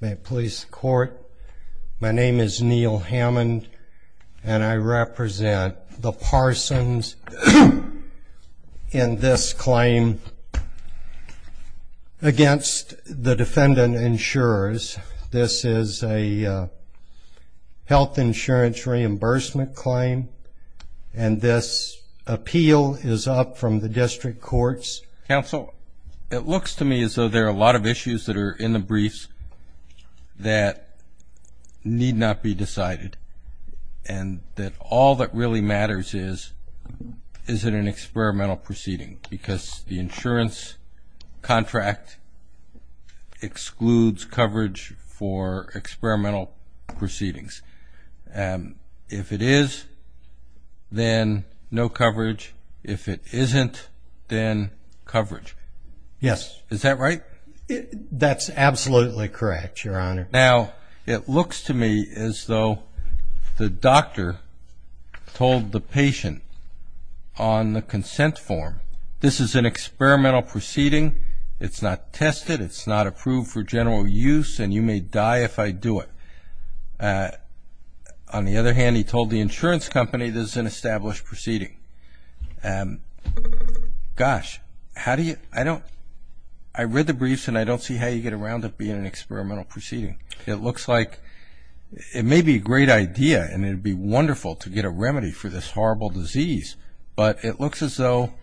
May it please the Court, my name is Neal Hammond and I represent the Parsons in this claim against the defendant insurers. This is a health insurance reimbursement claim and this appeal is up from the District Courts. Counsel, it looks to me as though there are a lot of issues that are in the briefs that need not be decided and that all that really matters is, is it an experimental proceeding? Because the insurance contract excludes coverage for experimental proceedings. If it is, then no coverage. If it isn't, then coverage. Yes. Is that right? That's absolutely correct, Your Honor. Now, it looks to me as though the doctor told the patient on the consent form, this is an experimental proceeding, it's not tested, it's not approved for general use and you may die if I do it. On the other hand, he told the insurance company this is an established proceeding. Gosh, how do you, I don't, I read the briefs and I don't see how you get around to being an experimental proceeding. It looks like, it may be a great idea and it would be wonderful to get a remedy for this horrible disease, but it looks as though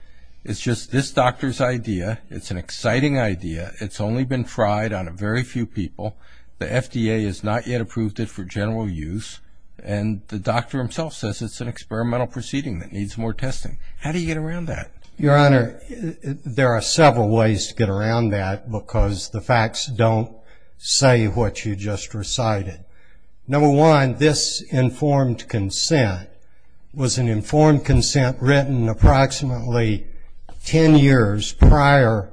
it's just this doctor's idea, it's an exciting idea, it's only been tried on a very few people. The FDA has not yet approved it for general use and the doctor himself says it's an experimental proceeding that needs more testing. How do you get around that? Your Honor, there are several ways to get around that because the facts don't say what you just recited. Number one, this informed consent was an informed consent written approximately ten years prior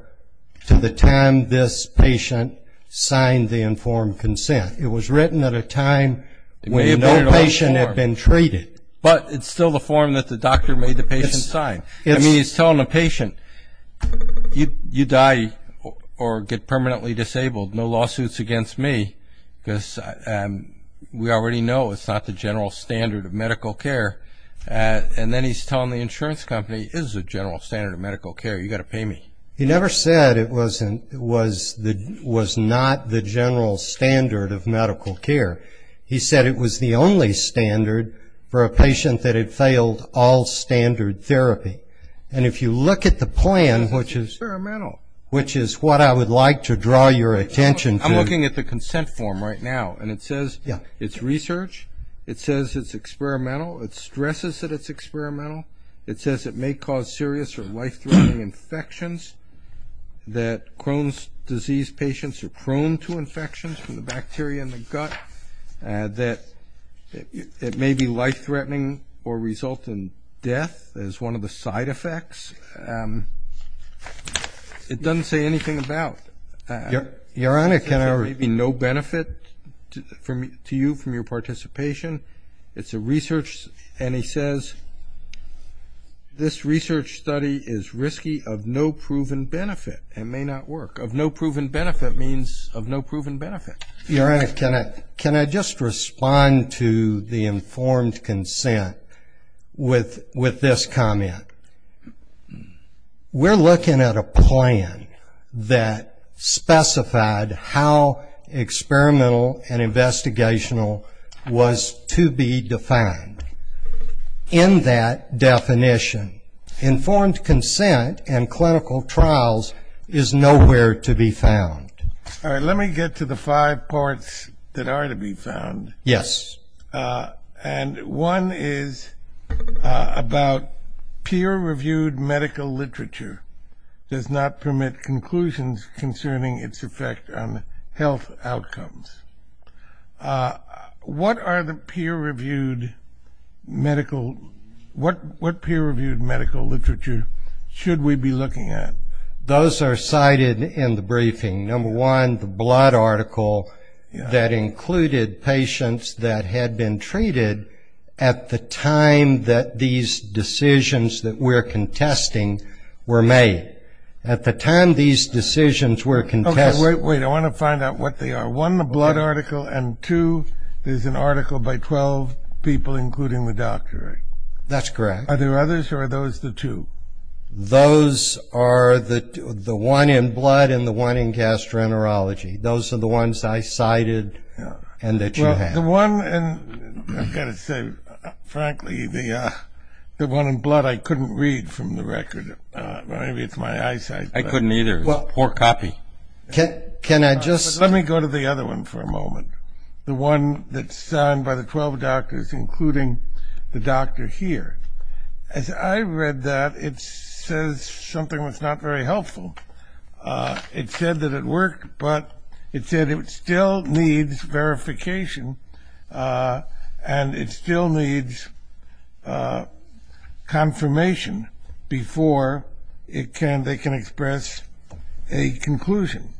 to the time this patient signed the informed consent. It was written at a time when no patient had been treated. But it's still the form that the doctor made the patient sign. I mean, he's telling the patient, you die or get permanently disabled, no lawsuits against me, because we already know it's not the general standard of medical care. And then he's telling the insurance company, it is the general standard of medical care, you've got to pay me. He never said it was not the general standard of medical care. He said it was the only standard for a patient that had failed all standard therapy. And if you look at the plan, which is what I would like to draw your attention to. I'm looking at the consent form right now and it says it's research, it says it's experimental, it stresses that it's experimental, it says it may cause serious or life-threatening infections, that Crohn's disease patients are prone to infections from the bacteria in the gut, that it may be life-threatening or result in death as one of the side effects. It doesn't say anything about... Your Honor, can I... It may be no benefit to you from your participation. It's a research, and he says this research study is risky of no proven benefit and may not work. Of no proven benefit means of no proven benefit. Your Honor, can I just respond to the informed consent with this comment? We're looking at a plan that specified how experimental and investigational was to be defined. In that definition, informed consent and clinical trials is nowhere to be found. All right, let me get to the five parts that are to be found. Yes. And one is about peer-reviewed medical literature does not permit conclusions concerning its effect on health outcomes. What are the peer-reviewed medical... What peer-reviewed medical literature should we be looking at? Those are cited in the briefing. Number one, the blood article that included patients that had been treated at the time that these decisions that we're contesting were made. At the time these decisions were contested... Okay, wait, wait. I want to find out what they are. One, the blood article, and two, there's an article by 12 people, including the doctor. That's correct. Are there others, or are those the two? Those are the one in blood and the one in gastroenterology. Those are the ones I cited and that you have. Well, the one in, I've got to say, frankly, the one in blood I couldn't read from the record. Maybe it's my eyesight. I couldn't either. It's a poor copy. Can I just... Let me go to the other one for a moment, the one that's signed by the 12 doctors, including the doctor here. As I read that, it says something that's not very helpful. It said that it worked, but it said it still needs verification and it still needs confirmation before they can express a conclusion.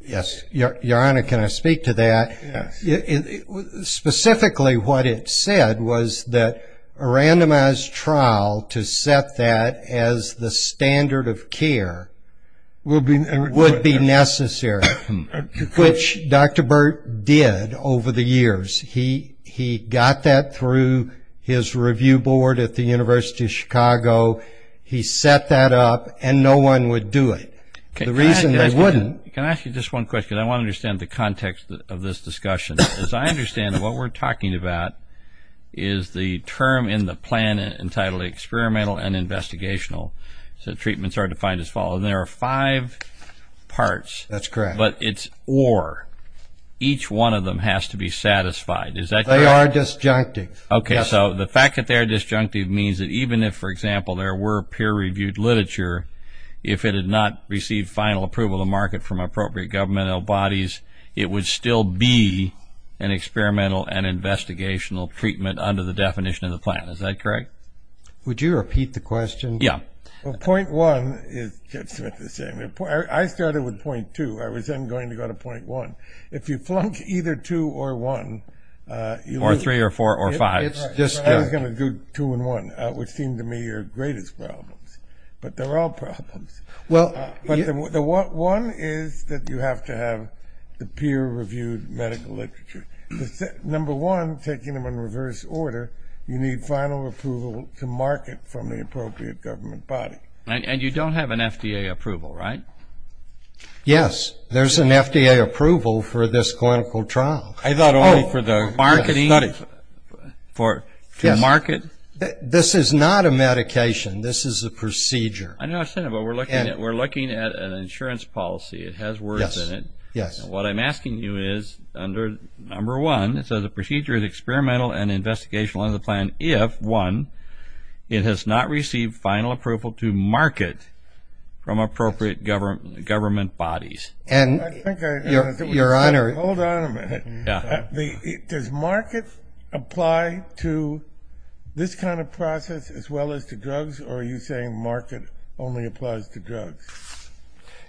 Yes. Your Honor, can I speak to that? Yes. Specifically, what it said was that a randomized trial to set that as the standard of care would be necessary, which Dr. Burt did over the years. He got that through his review board at the University of Chicago. He set that up, and no one would do it. The reason they wouldn't... Can I ask you just one question? I want to understand the context of this discussion. As I understand it, what we're talking about is the term in the plan entitled experimental and investigational. The treatments are defined as follows. There are five parts. That's correct. But it's or. Each one of them has to be satisfied. They are disjunctive. Okay. So the fact that they're disjunctive means that even if, for example, there were peer-reviewed literature, if it had not received final approval of the market from appropriate governmental bodies, it would still be an experimental and investigational treatment under the definition of the plan. Is that correct? Would you repeat the question? Yeah. Point one is just about the same. I started with point two. I was then going to go to point one. If you flunk either two or one... Or three or four or five. I was going to do two and one, which seemed to me your greatest problems. But they're all problems. One is that you have to have the peer-reviewed medical literature. Number one, taking them in reverse order, you need final approval to market from the appropriate government body. And you don't have an FDA approval, right? Yes. There's an FDA approval for this clinical trial. I thought only for the studies. Marketing? To market? This is not a medication. This is a procedure. I know what you're saying, but we're looking at an insurance policy. It has words in it. Yes. What I'm asking you is under number one, it says the procedure is experimental and investigational under the plan if, one, it has not received final approval to market from appropriate government bodies. And, Your Honor... Hold on a minute. Yeah. Does market apply to this kind of process as well as to drugs, or are you saying market only applies to drugs?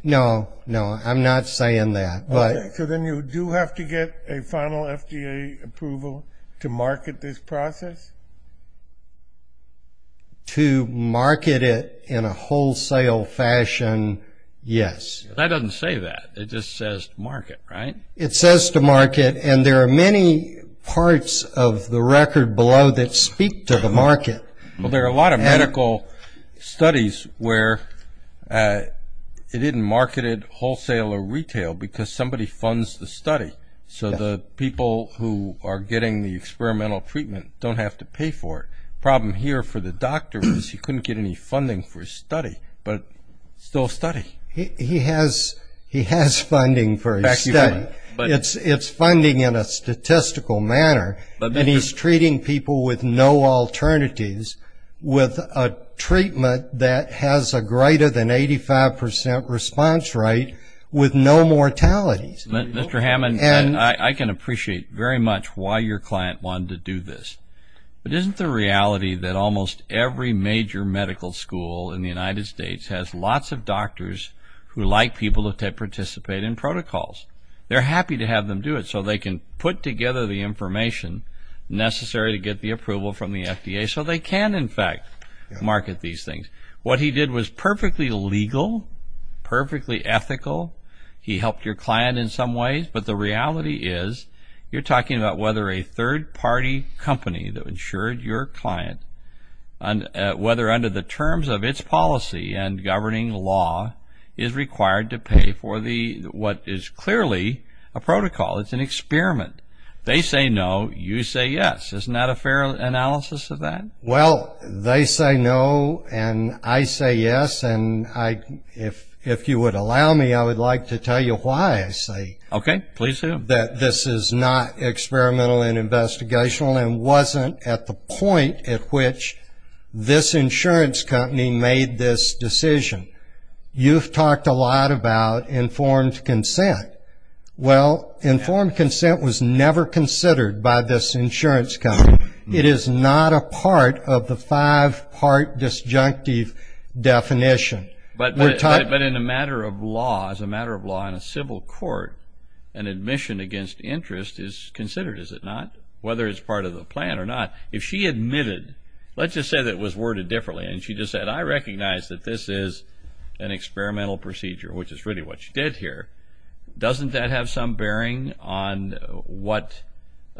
No, no, I'm not saying that. Okay, so then you do have to get a final FDA approval to market this process? To market it in a wholesale fashion, yes. That doesn't say that. It just says market, right? It says to market, and there are many parts of the record below that speak to the market. Well, there are a lot of medical studies where it isn't marketed wholesale or retail because somebody funds the study, so the people who are getting the experimental treatment don't have to pay for it. The problem here for the doctor is he couldn't get any funding for his study, but still study. He has funding for his study. It's funding in a statistical manner, and he's treating people with no alternatives with a treatment that has a greater than 85% response rate with no mortalities. Mr. Hammond, I can appreciate very much why your client wanted to do this, but isn't the reality that almost every major medical school in the United States has lots of doctors who like people to participate in protocols? They're happy to have them do it, so they can put together the information necessary to get the approval from the FDA so they can, in fact, market these things. What he did was perfectly legal, perfectly ethical. He helped your client in some ways, but the reality is you're talking about whether a third-party company that insured your client, whether under the terms of its policy and governing law, is required to pay for what is clearly a protocol. It's an experiment. They say no. You say yes. Isn't that a fair analysis of that? Well, they say no, and I say yes, and if you would allow me, I would like to tell you why I say... Okay, please do. ...that this is not experimental and investigational and wasn't at the point at which this insurance company made this decision. You've talked a lot about informed consent. Well, informed consent was never considered by this insurance company. It is not a part of the five-part disjunctive definition. But in a matter of law, as a matter of law in a civil court, an admission against interest is considered, is it not, whether it's part of the plan or not. If she admitted, let's just say that it was worded differently, and she just said, I recognize that this is an experimental procedure, which is really what you did here, doesn't that have some bearing on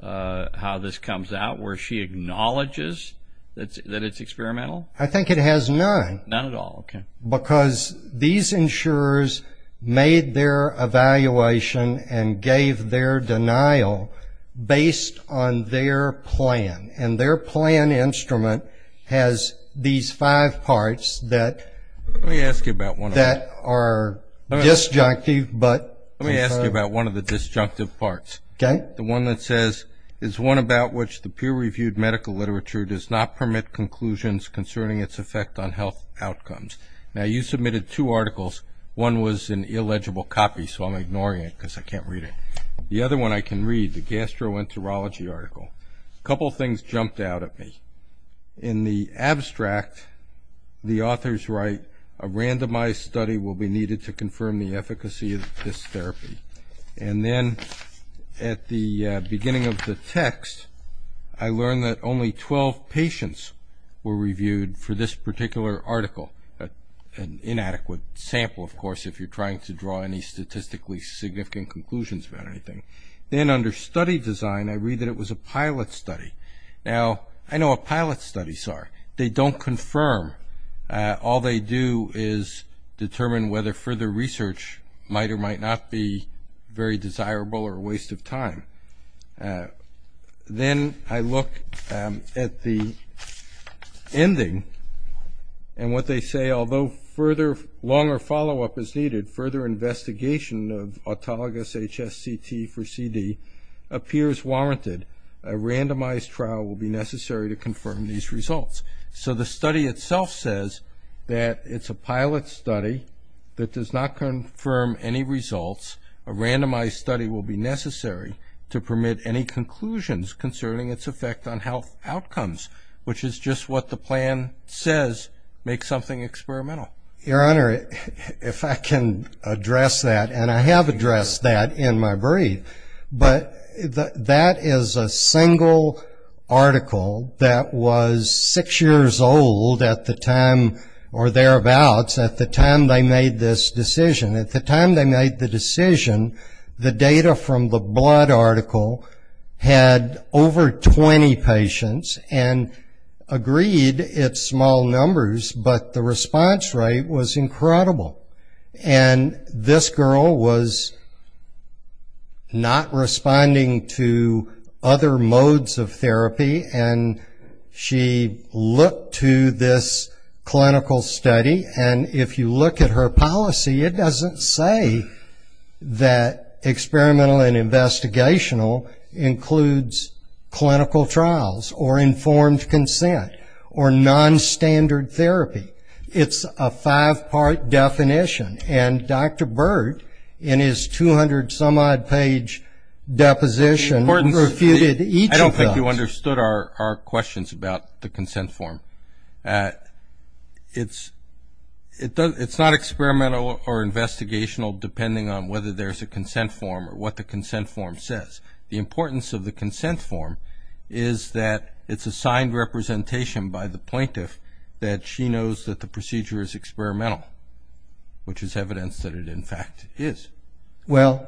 how this comes out, where she acknowledges that it's experimental? I think it has none. None at all. Okay. Because these insurers made their evaluation and gave their denial based on their plan, and their plan instrument has these five parts that... Let me ask you about one of them. ...that are disjunctive, but... Let me ask you about one of the disjunctive parts. Okay. The one that says, it's one about which the peer-reviewed medical literature does not permit conclusions concerning its effect on health outcomes. Now, you submitted two articles. One was an illegible copy, so I'm ignoring it because I can't read it. The other one I can read, the gastroenterology article. A couple things jumped out at me. In the abstract, the authors write, a randomized study will be needed to confirm the efficacy of this therapy. And then at the beginning of the text, I learned that only 12 patients were reviewed for this particular article, an inadequate sample, of course, if you're trying to draw any statistically significant conclusions about anything. Then under study design, I read that it was a pilot study. Now, I know what pilot studies are. They don't confirm. All they do is determine whether further research might or might not be very desirable or a waste of time. Then I look at the ending, and what they say, although further longer follow-up is needed, further investigation of autologous HSCT for CD appears warranted. A randomized trial will be necessary to confirm these results. So the study itself says that it's a pilot study that does not confirm any results. A randomized study will be necessary to permit any conclusions concerning its effect on health outcomes, which is just what the plan says makes something experimental. Your Honor, if I can address that, and I have addressed that in my brief, but that is a single article that was six years old at the time, or thereabouts, at the time they made this decision. At the time they made the decision, the data from the blood article had over 20 patients and agreed it's small numbers, but the response rate was incredible. And this girl was not responding to other modes of therapy, and she looked to this clinical study, and if you look at her policy, it doesn't say that experimental and investigational includes clinical trials or informed consent or nonstandard therapy. It's a five-part definition, and Dr. Burt in his 200-some-odd-page deposition refuted each of those. I don't think you understood our questions about the consent form. It's not experimental or investigational, depending on whether there's a consent form or what the consent form says. The importance of the consent form is that it's a signed representation by the plaintiff that she knows that the procedure is experimental, which is evidence that it, in fact, is. Well,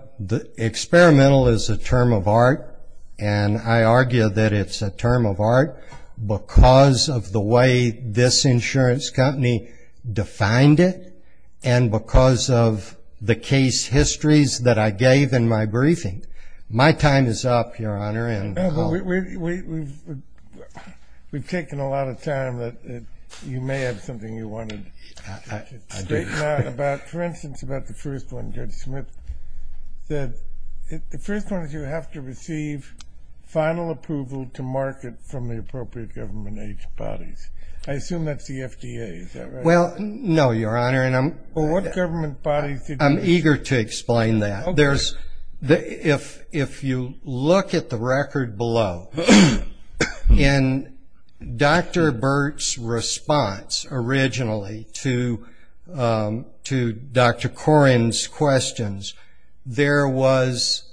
experimental is a term of art, and I argue that it's a term of art because of the way this insurance company defined it and because of the case histories that I gave in my briefing. My time is up, Your Honor. We've taken a lot of time. You may have something you wanted to state now. For instance, about the first one, Judge Smith said, the first one is you have to receive final approval to market from the appropriate government age bodies. I assume that's the FDA, is that right? Well, no, Your Honor, and I'm eager to explain that. If you look at the record below, in Dr. Burt's response originally to Dr. Koren's questions, there was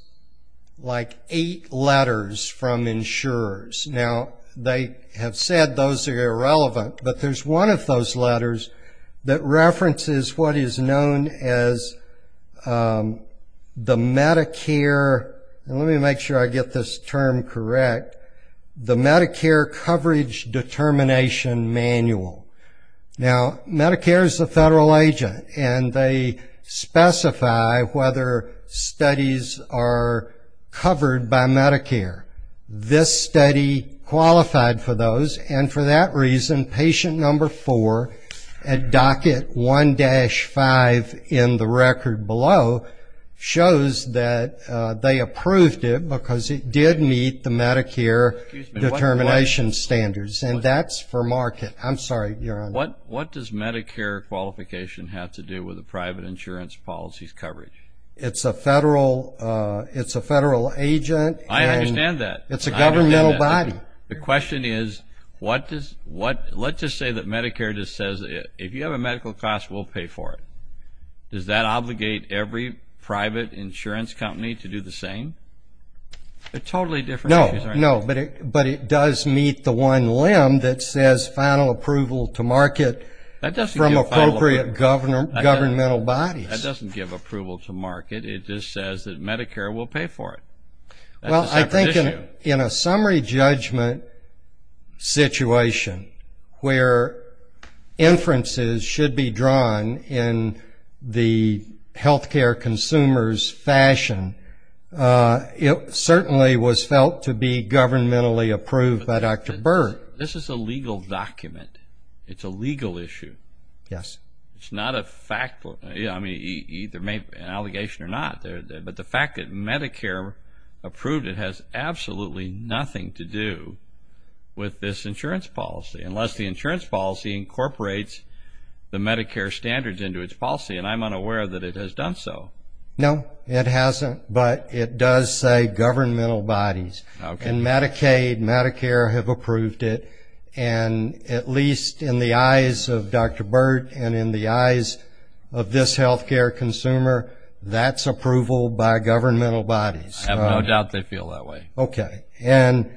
like eight letters from insurers. Now, they have said those are irrelevant, but there's one of those letters that references what is known as the Medicare, and let me make sure I get this term correct, the Medicare Coverage Determination Manual. Now, Medicare is a federal agent, and they specify whether studies are covered by Medicare. This study qualified for those, and for that reason, patient number four at docket 1-5 in the record below shows that they approved it because it did meet the Medicare determination standards, and that's for market. I'm sorry, Your Honor. What does Medicare qualification have to do with a private insurance policy's coverage? It's a federal agent. I understand that. It's a governmental body. The question is, let's just say that Medicare just says, if you have a medical cost, we'll pay for it. Does that obligate every private insurance company to do the same? They're totally different. No, no, but it does meet the one limb that says final approval to market from appropriate governmental bodies. That doesn't give approval to market. It just says that Medicare will pay for it. Well, I think in a summary judgment situation where inferences should be drawn in the health care consumer's fashion, it certainly was felt to be governmentally approved by Dr. Burr. This is a legal document. It's a legal issue. Yes. It's not a fact, either an allegation or not, but the fact that Medicare approved it has absolutely nothing to do with this insurance policy, unless the insurance policy incorporates the Medicare standards into its policy, and I'm unaware that it has done so. No, it hasn't, but it does say governmental bodies. In Medicaid, Medicare have approved it, and at least in the eyes of Dr. Burr and in the eyes of this health care consumer, that's approval by governmental bodies. I have no doubt they feel that way. Okay. And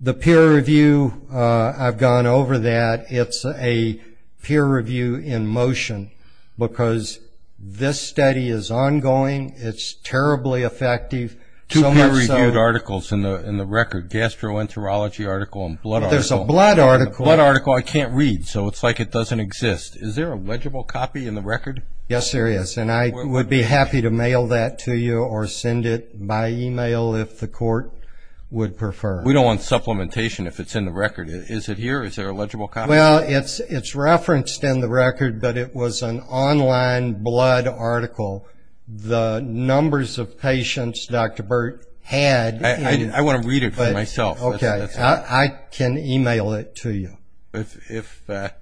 the peer review, I've gone over that. It's a peer review in motion because this study is ongoing. It's terribly effective. Two peer-reviewed articles in the record, gastroenterology article and blood article. But there's a blood article. Blood article I can't read, so it's like it doesn't exist. Is there a legible copy in the record? Yes, there is, and I would be happy to mail that to you or send it by e-mail if the court would prefer. We don't want supplementation if it's in the record. Is it here? Is there a legible copy? Well, it's referenced in the record, but it was an online blood article. The numbers of patients Dr. Burr had. I want to read it for myself. Okay. I can e-mail it to you. If the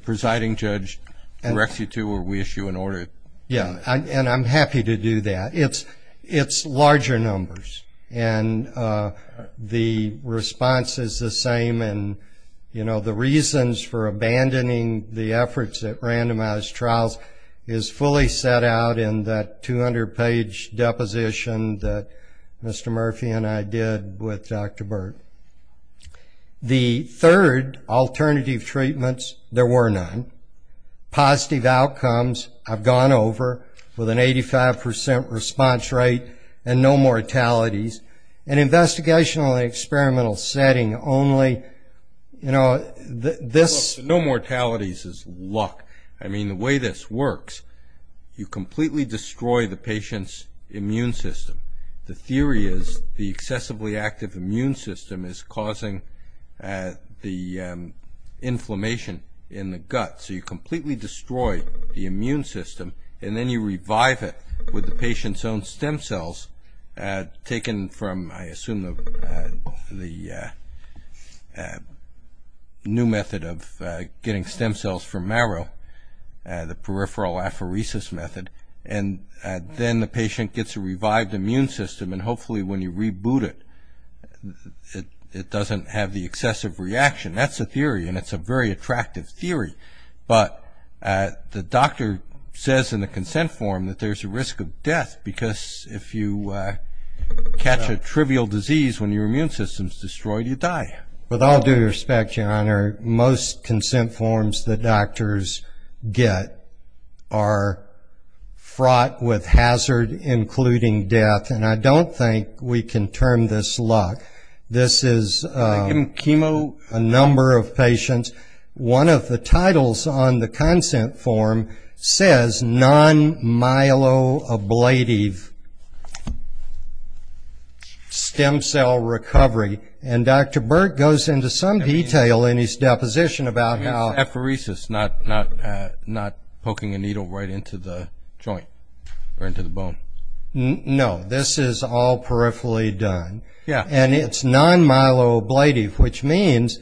presiding judge directs you to or we issue an order. Yeah, and I'm happy to do that. It's larger numbers, and the response is the same, and the reasons for abandoning the efforts at randomized trials is fully set out in that 200-page deposition that Mr. Murphy and I did with Dr. Burr. The third, alternative treatments, there were none. Positive outcomes have gone over with an 85% response rate and no mortalities. In an investigational and experimental setting, only, you know, this. No mortalities is luck. I mean, the way this works, you completely destroy the patient's immune system. The theory is the excessively active immune system is causing the inflammation in the gut, so you completely destroy the immune system, and then you revive it with the patient's own stem cells taken from, I assume, the new method of getting stem cells from marrow, the peripheral apheresis method, and then the patient gets a revived immune system, and hopefully when you reboot it, it doesn't have the excessive reaction. That's the theory, and it's a very attractive theory, but the doctor says in the consent form that there's a risk of death because if you catch a trivial disease when your immune system is destroyed, you die. With all due respect, Your Honor, most consent forms that doctors get are fraught with hazard, including death, and I don't think we can term this luck. This is a number of patients. One of the titles on the consent form says non-myeloablative stem cell recovery, and Dr. Burt goes into some detail in his deposition about how… I mean, it's apheresis, not poking a needle right into the joint or into the bone. No, this is all peripherally done, and it's non-myeloablative, which means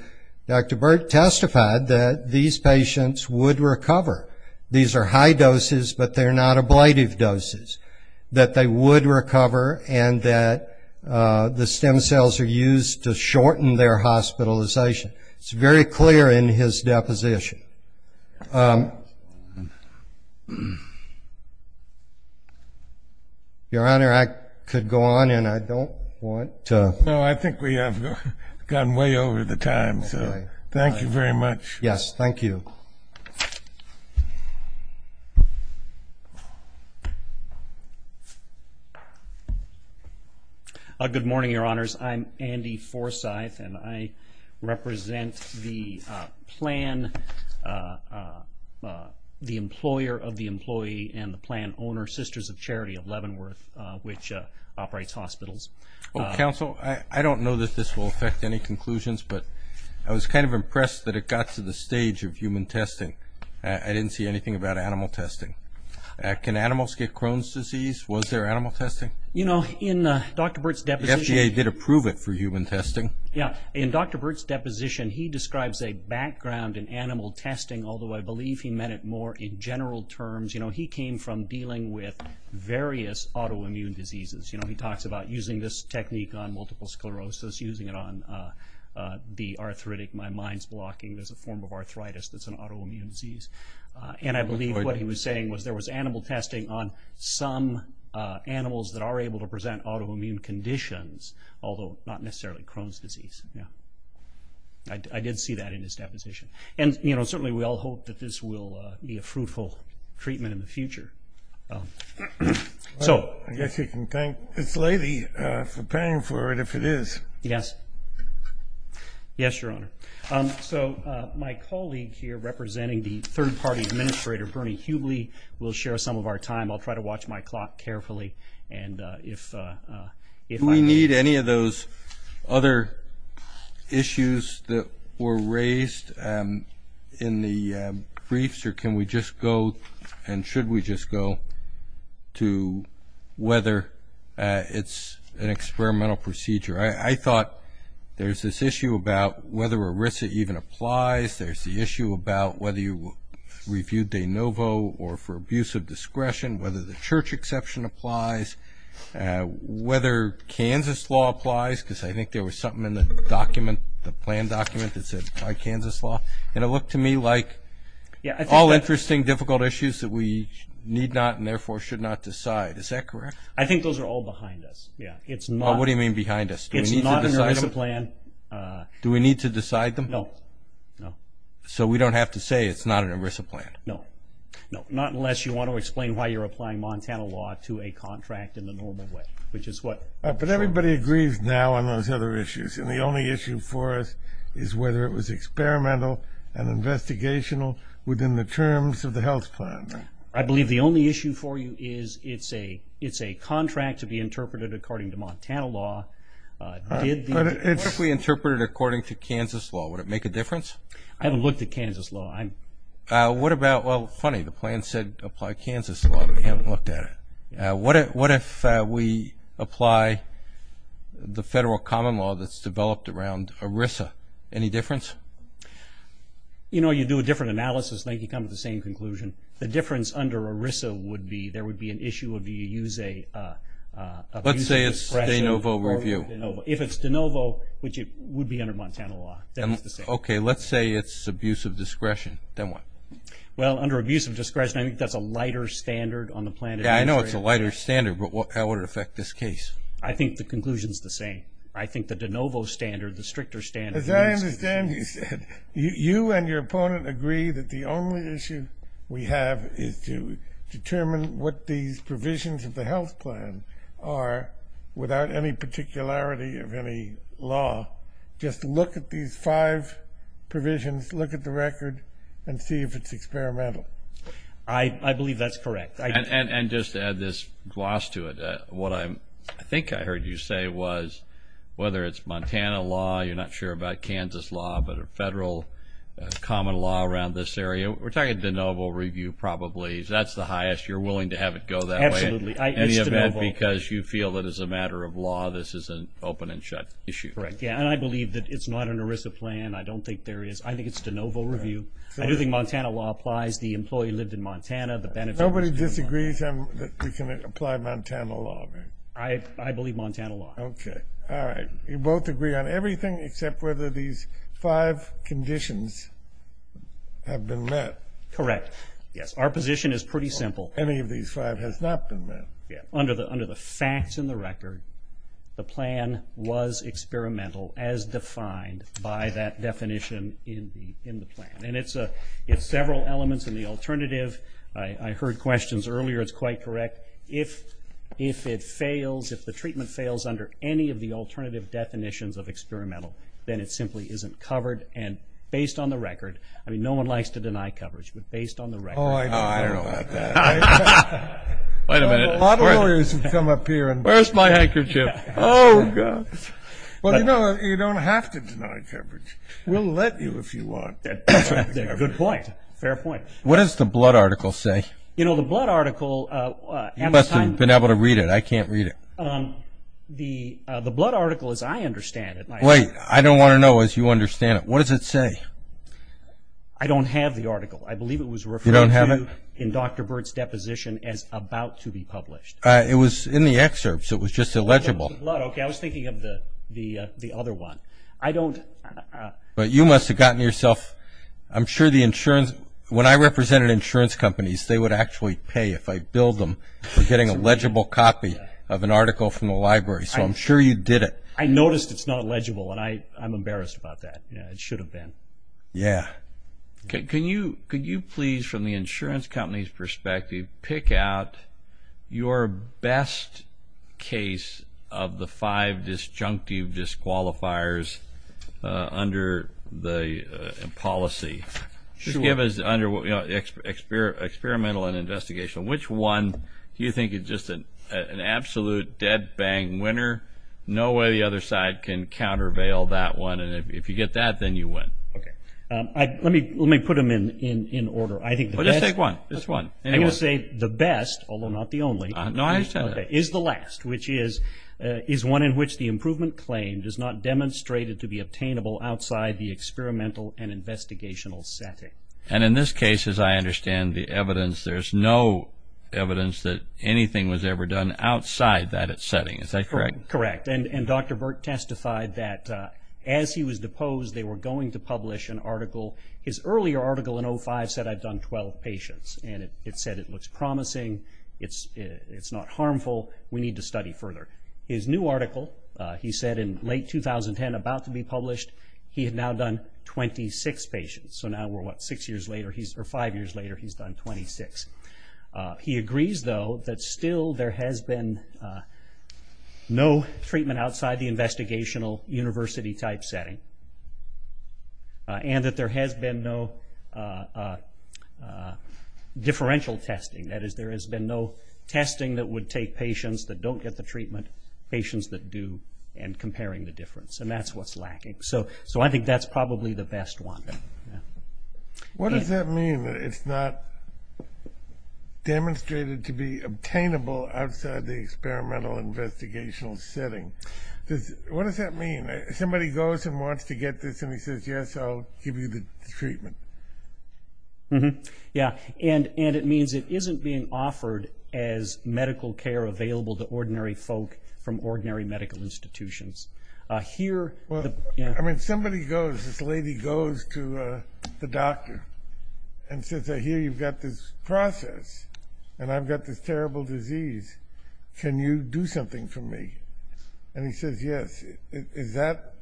Dr. Burt testified that these patients would recover. These are high doses, but they're not ablative doses, that they would recover and that the stem cells are used to shorten their hospitalization. It's very clear in his deposition. Your Honor, I could go on, and I don't want to… No, I think we have gone way over the time, so thank you very much. Yes, thank you. Good morning, Your Honors. I'm Andy Forsyth, and I represent the employer of the employee and the plan owner, Sisters of Charity of Leavenworth, which operates hospitals. Counsel, I don't know that this will affect any conclusions, but I was kind of impressed that it got to the stage of human testing. I didn't see anything about animal testing. Can animals get Crohn's disease? Was there animal testing? You know, in Dr. Burt's deposition… The FDA did approve it for human testing. Yes. In Dr. Burt's deposition, he describes a background in animal testing, although I believe he meant it more in general terms. You know, he came from dealing with various autoimmune diseases. You know, he talks about using this technique on multiple sclerosis, using it on the arthritic, my mind's blocking, there's a form of arthritis that's an autoimmune disease. And I believe what he was saying was there was animal testing on some animals that are able to present autoimmune conditions, although not necessarily Crohn's disease. Yeah. I did see that in his deposition. And, you know, certainly we all hope that this will be a fruitful treatment in the future. I guess you can thank this lady for paying for it, if it is. Yes. Yes, Your Honor. So my colleague here, representing the third-party administrator, Bernie Hubley, will share some of our time. I'll try to watch my clock carefully. Do we need any of those other issues that were raised in the briefs, or can we just go and should we just go to whether it's an experimental procedure? I thought there's this issue about whether ERISA even applies. There's the issue about whether you reviewed de novo or for abuse of discretion, whether the church exception applies, whether Kansas law applies, because I think there was something in the plan document that said apply Kansas law. And it looked to me like all interesting, difficult issues that we need not and therefore should not decide. Is that correct? I think those are all behind us, yeah. What do you mean behind us? It's not an ERISA plan. Do we need to decide them? No, no. So we don't have to say it's not an ERISA plan? No, no, not unless you want to explain why you're applying Montana law to a contract in the normal way, which is what I'm sure. But everybody agrees now on those other issues, and the only issue for us is whether it was experimental and investigational within the terms of the health plan. I believe the only issue for you is it's a contract to be interpreted according to Montana law. What if we interpret it according to Kansas law? Would it make a difference? I haven't looked at Kansas law. What about, well, funny, the plan said apply Kansas law, but we haven't looked at it. What if we apply the federal common law that's developed around ERISA? Any difference? You know, you do a different analysis. They can come to the same conclusion. The difference under ERISA would be there would be an issue of do you use a Let's say it's de novo review. If it's de novo, which it would be under Montana law. Okay, let's say it's abuse of discretion. Then what? Well, under abuse of discretion, I think that's a lighter standard on the plan. Yeah, I know it's a lighter standard, but how would it affect this case? I think the conclusion is the same. I think the de novo standard, the stricter standard, As I understand it, you and your opponent agree that the only issue we have is to determine what these provisions of the health plan are without any particularity of any law. Just look at these five provisions, look at the record, and see if it's experimental. I believe that's correct. And just to add this gloss to it, what I think I heard you say was whether it's Montana law, you're not sure about Kansas law, but a federal common law around this area. We're talking de novo review probably. That's the highest you're willing to have it go that way? Absolutely. Any of that because you feel that as a matter of law, this is an open and shut issue. Correct. Yeah, and I believe that it's not an ERISA plan. I don't think there is. I think it's de novo review. I do think Montana law applies. The employee lived in Montana. Nobody disagrees that we can apply Montana law, right? I believe Montana law. Okay. All right. You both agree on everything except whether these five conditions have been met. Correct. Yes. Our position is pretty simple. Any of these five has not been met. Yeah. Under the facts in the record, the plan was experimental as defined by that definition in the plan. And it's several elements in the alternative. I heard questions earlier. It's quite correct. If it fails, if the treatment fails under any of the alternative definitions of experimental, then it simply isn't covered. And based on the record, I mean no one likes to deny coverage, but based on the record. Oh, I know. I don't know about that. Wait a minute. A lot of lawyers have come up here. Where's my handkerchief? Oh, gosh. Well, you know, you don't have to deny coverage. We'll let you if you want. Good point. Fair point. What does the blood article say? You know, the blood article. You must have been able to read it. I can't read it. The blood article as I understand it. Wait. I don't want to know as you understand it. What does it say? I don't have the article. I believe it was referred to in Dr. Burt's deposition as about to be published. It was in the excerpts. It was just illegible. Okay. I was thinking of the other one. I don't. But you must have gotten yourself. I'm sure the insurance. When I represented insurance companies, they would actually pay if I billed them for getting a legible copy of an article from the library. So I'm sure you did it. I noticed it's not legible, and I'm embarrassed about that. It should have been. Yeah. Can you please, from the insurance company's perspective, pick out your best case of the five disjunctive disqualifiers under the policy? Sure. Experimental and investigational. Which one do you think is just an absolute dead-bang winner? No way the other side can countervail that one. And if you get that, then you win. Okay. Let me put them in order. Just pick one. Just one. I'm going to say the best, although not the only. No, I understand that. Is the last, which is one in which the improvement claim does not demonstrate it to be obtainable outside the experimental and investigational setting. And in this case, as I understand the evidence, there's no evidence that anything was ever done outside that setting. Is that correct? Correct. His earlier article in 05 said, I've done 12 patients, and it said it looks promising, it's not harmful, we need to study further. His new article, he said in late 2010, about to be published, he had now done 26 patients. So now we're what, six years later, or five years later, he's done 26. He agrees, though, that still there has been no treatment outside the investigational university-type setting, and that there has been no differential testing. That is, there has been no testing that would take patients that don't get the treatment, patients that do, and comparing the difference. And that's what's lacking. So I think that's probably the best one. What does that mean, that it's not demonstrated to be obtainable outside the experimental and investigational setting? What does that mean? Somebody goes and wants to get this, and he says, yes, I'll give you the treatment. Yeah, and it means it isn't being offered as medical care available to ordinary folk from ordinary medical institutions. I mean, somebody goes, this lady goes to the doctor and says, here you've got this process, and I've got this terrible disease. Can you do something for me? And he says, yes. Is that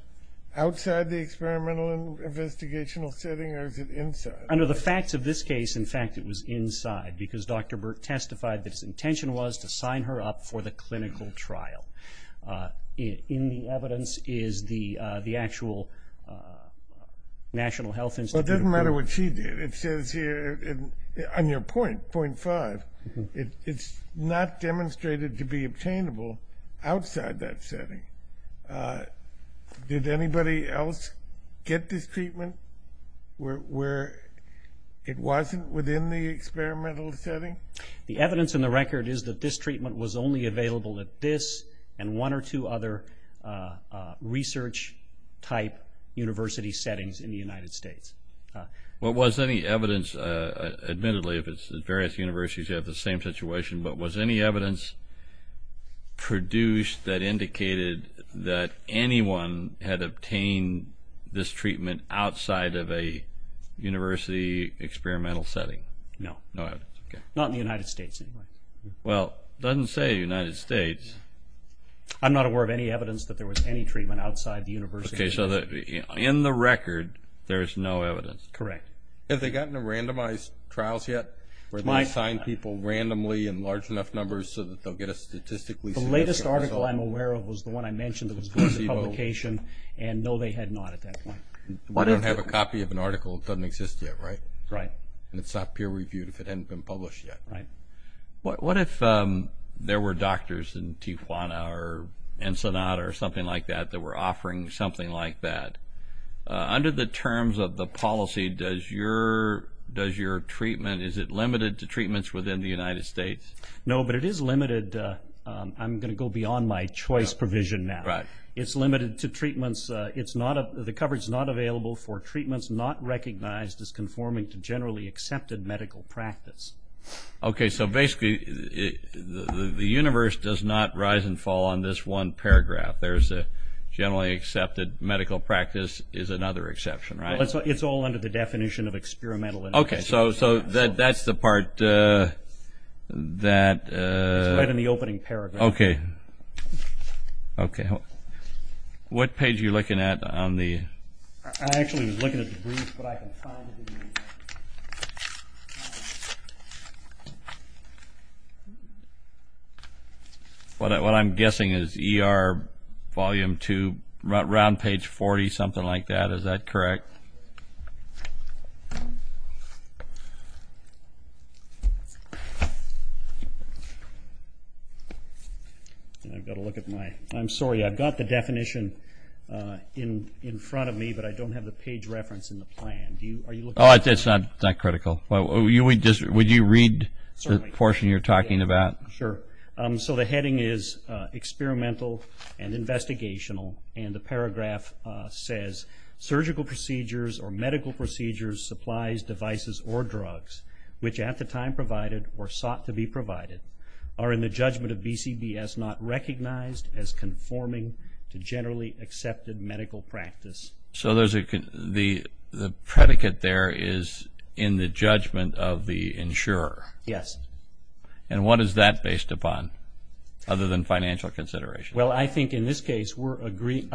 outside the experimental and investigational setting, or is it inside? Under the facts of this case, in fact, it was inside, because Dr. Burt testified that his intention was to sign her up for the clinical trial. In the evidence is the actual National Health Institute report. Well, it doesn't matter what she did. It says here, on your point, point five, it's not demonstrated to be obtainable outside that setting. Did anybody else get this treatment where it wasn't within the experimental setting? The evidence in the record is that this treatment was only available at this and one or two other research-type university settings in the United States. Was any evidence, admittedly, if it's at various universities, you have the same situation, but was any evidence produced that indicated that anyone had obtained this treatment outside of a university experimental setting? No. Not in the United States, anyway. Well, it doesn't say United States. I'm not aware of any evidence that there was any treatment outside the university. Okay, so in the record, there's no evidence. Correct. Have they gotten to randomized trials yet where they assign people randomly in large enough numbers so that they'll get a statistically significant result? The latest article I'm aware of was the one I mentioned that was going to publication, and no, they had not at that point. We don't have a copy of an article that doesn't exist yet, right? Right. And it's not peer-reviewed if it hadn't been published yet. Right. What if there were doctors in Tijuana or Ensenada or something like that that were offering something like that? Under the terms of the policy, does your treatment, is it limited to treatments within the United States? No, but it is limited. I'm going to go beyond my choice provision now. Right. It's limited to treatments. The coverage is not available for treatments not recognized as conforming to generally accepted medical practice. Okay, so basically the universe does not rise and fall on this one paragraph. There's a generally accepted medical practice is another exception, right? It's all under the definition of experimental. Okay, so that's the part that – It's right in the opening paragraph. Okay. What page are you looking at on the – I actually was looking at the brief, but I can't find it. What I'm guessing is ER Volume 2, round page 40, something like that. Is that correct? I've got to look at my – I'm sorry. I've got the definition in front of me, but I don't have the page reference in the plan. It's not critical. Would you read the portion you're talking about? Sure. So the heading is experimental and investigational, and the paragraph says, surgical procedures or medical procedures, supplies, devices, or drugs, which at the time provided or sought to be provided, are in the judgment of BCBS not recognized as conforming to generally accepted medical practice. So there's a – the predicate there is in the judgment of the insurer. Yes. And what is that based upon, other than financial consideration? Well, I think in this case we're agreeing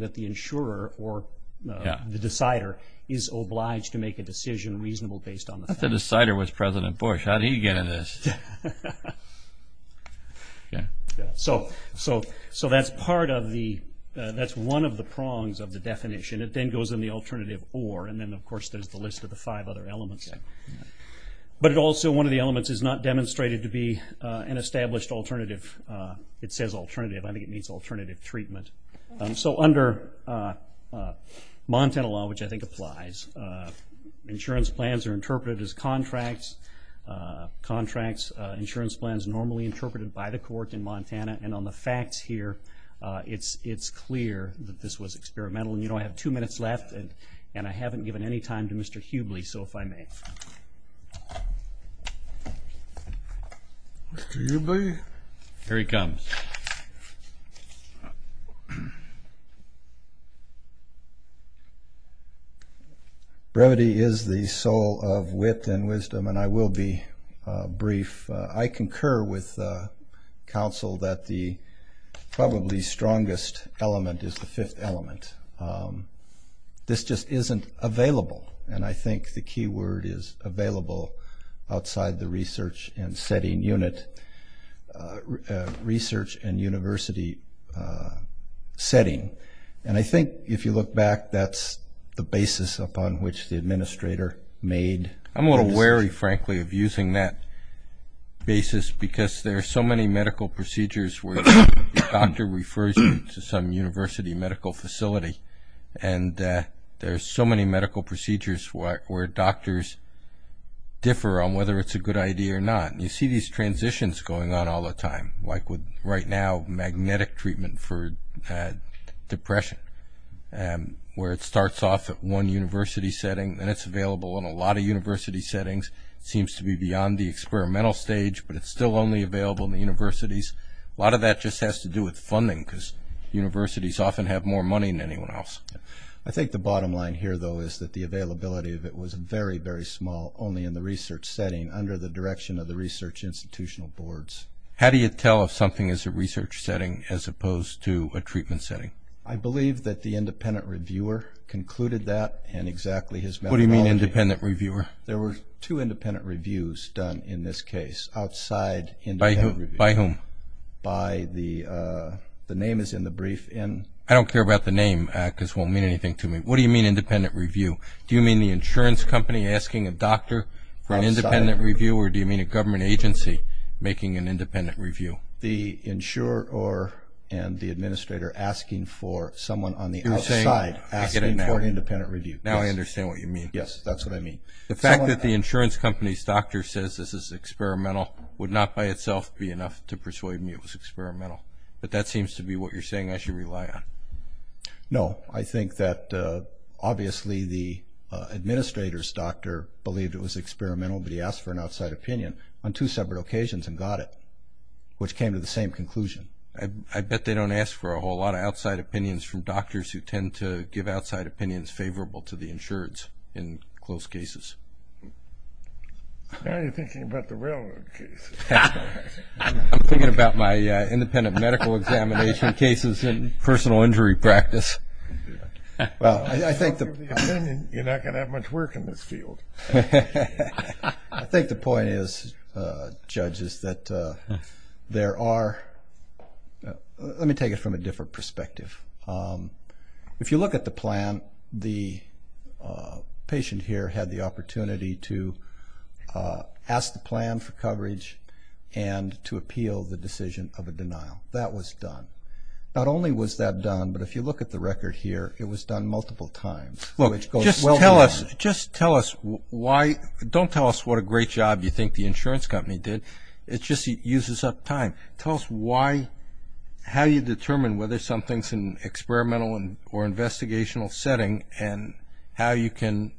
that the insurer or the decider is obliged to make a decision reasonable based on the fact. The decider was President Bush. How did he get in this? Yeah. So that's part of the – that's one of the prongs of the definition. It then goes in the alternative or, and then of course there's the list of the five other elements. But it also – one of the elements is not demonstrated to be an established alternative. It says alternative. I think it means alternative treatment. So under Montana law, which I think applies, insurance plans are interpreted as contracts, insurance plans normally interpreted by the court in Montana. And on the facts here, it's clear that this was experimental. And, you know, I have two minutes left, and I haven't given any time to Mr. Hubley, so if I may. Mr. Hubley? Here he comes. Brevity is the soul of wit and wisdom, and I will be brief. I concur with counsel that the probably strongest element is the fifth element. This just isn't available, and I think the key word is available outside the research and setting unit. Research and university setting. And I think if you look back, that's the basis upon which the administrator made this. I'm a little wary, frankly, of using that basis because there are so many medical procedures where the doctor refers you to some university medical facility, and there are so many medical procedures where doctors differ on whether it's a good idea or not. And you see these transitions going on all the time, like with right now magnetic treatment for depression, where it starts off at one university setting, then it's available in a lot of university settings. It seems to be beyond the experimental stage, but it's still only available in the universities. A lot of that just has to do with funding because universities often have more money than anyone else. I think the bottom line here, though, is that the availability of it was very, very small, only in the research setting, under the direction of the research institutional boards. How do you tell if something is a research setting as opposed to a treatment setting? I believe that the independent reviewer concluded that, and exactly his methodology. What do you mean, independent reviewer? There were two independent reviews done in this case, outside independent review. By whom? By the—the name is in the brief. I don't care about the name because it won't mean anything to me. What do you mean, independent review? Do you mean the insurance company asking a doctor for an independent review, or do you mean a government agency making an independent review? The insurer and the administrator asking for someone on the outside. You're saying—I get it now. Asking for an independent review. Now I understand what you mean. Yes, that's what I mean. The fact that the insurance company's doctor says this is experimental would not by itself be enough to persuade me it was experimental, but that seems to be what you're saying I should rely on. No, I think that obviously the administrator's doctor believed it was experimental, but he asked for an outside opinion on two separate occasions and got it, which came to the same conclusion. I bet they don't ask for a whole lot of outside opinions from doctors who tend to give outside opinions favorable to the insureds in close cases. Now you're thinking about the railroad case. I'm thinking about my independent medical examination cases in personal injury practice. Well, I think the— You're not going to have much work in this field. I think the point is, Judge, is that there are— let me take it from a different perspective. If you look at the plan, the patient here had the opportunity to ask the plan for coverage and to appeal the decision of a denial. That was done. Not only was that done, but if you look at the record here, it was done multiple times, which goes well beyond. Just tell us why—don't tell us what a great job you think the insurance company did. It just uses up time. Tell us how you determine whether something's an experimental or investigational setting and how you can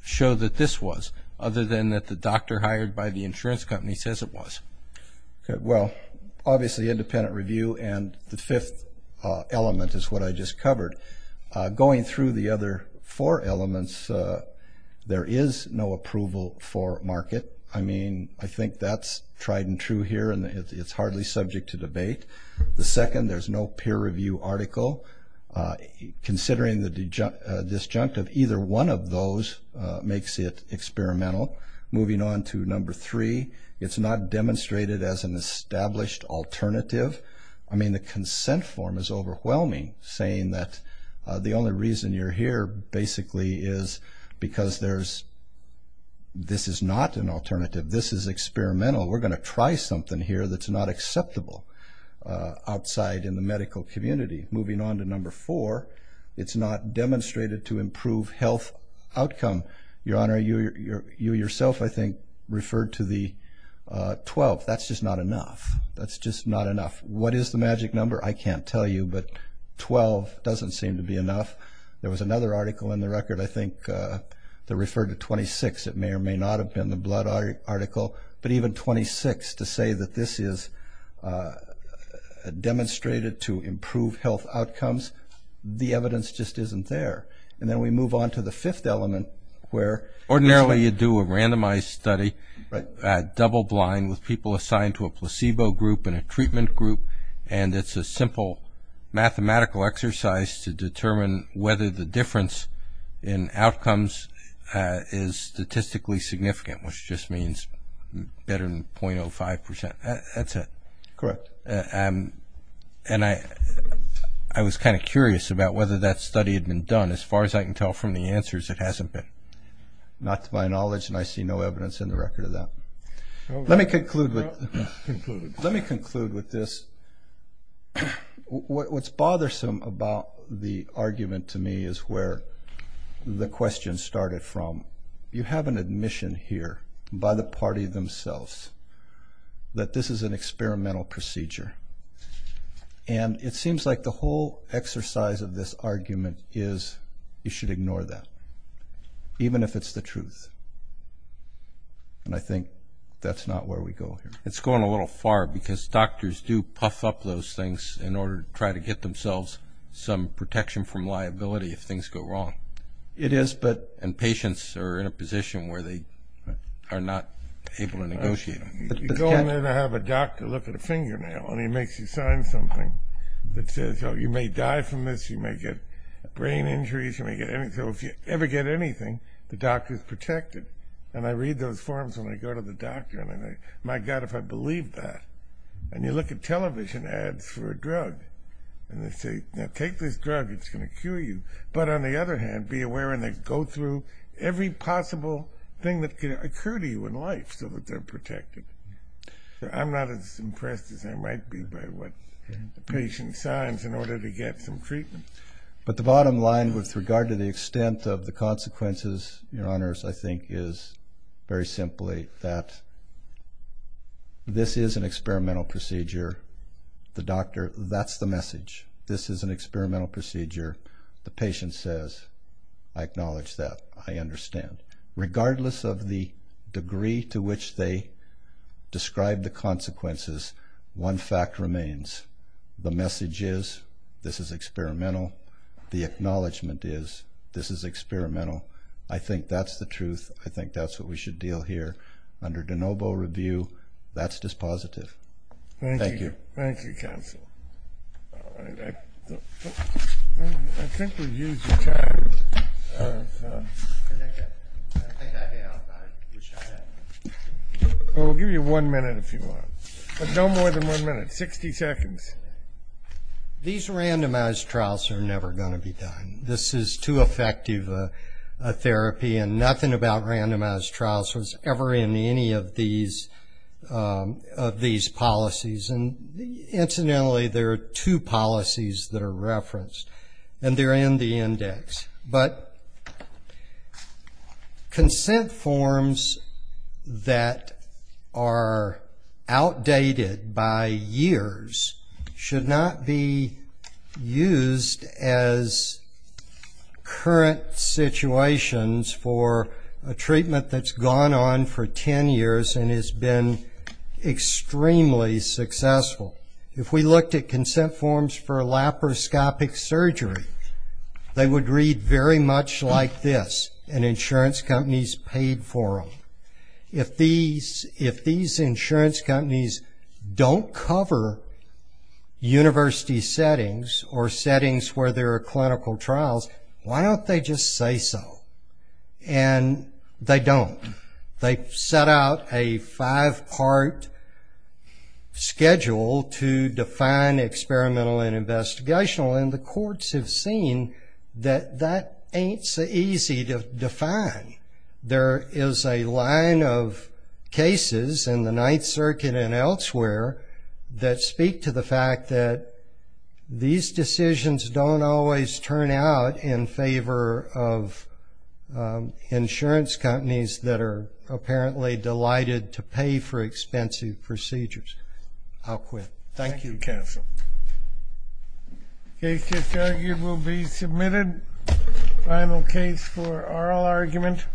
show that this was, other than that the doctor hired by the insurance company says it was. Well, obviously independent review and the fifth element is what I just covered. Going through the other four elements, there is no approval for market. I mean, I think that's tried and true here, and it's hardly subject to debate. The second, there's no peer review article. Considering the disjunct of either one of those makes it experimental. Moving on to number three, it's not demonstrated as an established alternative. I mean, the consent form is overwhelming, saying that the only reason you're here basically is because there's— this is not an alternative. This is experimental. We're going to try something here that's not acceptable outside in the medical community. Moving on to number four, it's not demonstrated to improve health outcome. Your Honor, you yourself, I think, referred to the 12. That's just not enough. That's just not enough. What is the magic number? I can't tell you, but 12 doesn't seem to be enough. There was another article in the record, I think, that referred to 26. It may or may not have been the blood article, but even 26 to say that this is demonstrated to improve health outcomes, the evidence just isn't there. And then we move on to the fifth element where— Ordinarily, you do a randomized study, double blind, with people assigned to a placebo group and a treatment group, and it's a simple mathematical exercise to determine whether the difference in outcomes is statistically significant, which just means better than 0.05%. That's it. Correct. And I was kind of curious about whether that study had been done. As far as I can tell from the answers, it hasn't been. Not to my knowledge, and I see no evidence in the record of that. Let me conclude with this. What's bothersome about the argument to me is where the question started from. You have an admission here by the party themselves that this is an experimental procedure, and it seems like the whole exercise of this argument is you should ignore that, even if it's the truth. And I think that's not where we go here. It's going a little far because doctors do puff up those things in order to try to get themselves some protection from liability if things go wrong. It is, but— And patients are in a position where they are not able to negotiate. You go in there to have a doctor look at a fingernail, and he makes you sign something that says, oh, you may die from this, you may get brain injuries, you may get anything. So if you ever get anything, the doctor is protected. And I read those forms when I go to the doctor, and I go, my God, if I believed that. And you look at television ads for a drug, and they say, now take this drug, it's going to cure you. But on the other hand, be aware, and they go through every possible thing that can occur to you in life so that they're protected. I'm not as impressed as I might be by what the patient signs in order to get some treatment. But the bottom line with regard to the extent of the consequences, Your Honors, I think is very simply that this is an experimental procedure. The doctor, that's the message. This is an experimental procedure. The patient says, I acknowledge that, I understand. Regardless of the degree to which they describe the consequences, one fact remains. The message is, this is experimental. The acknowledgment is, this is experimental. I think that's the truth. I think that's what we should deal here. Under de novo review, that's dispositive. Thank you. Thank you, counsel. All right. I think we've used the time. We'll give you one minute if you want. No more than one minute, 60 seconds. These randomized trials are never going to be done. This is too effective a therapy, and nothing about randomized trials was ever in any of these policies. Incidentally, there are two policies that are referenced, and they're in the index. But consent forms that are outdated by years should not be used as current situations for a treatment that's gone on for 10 years and has been extremely successful. If we looked at consent forms for laparoscopic surgery, they would read very much like this, and insurance companies paid for them. If these insurance companies don't cover university settings or settings where there are clinical trials, why don't they just say so? And they don't. They set out a five-part schedule to define experimental and investigational, and the courts have seen that that ain't so easy to define. There is a line of cases in the Ninth Circuit and elsewhere that speak to the fact that these decisions don't always turn out in favor of insurance companies that are apparently delighted to pay for expensive procedures. I'll quit. Thank you, counsel. The case that's argued will be submitted. Final case for oral argument.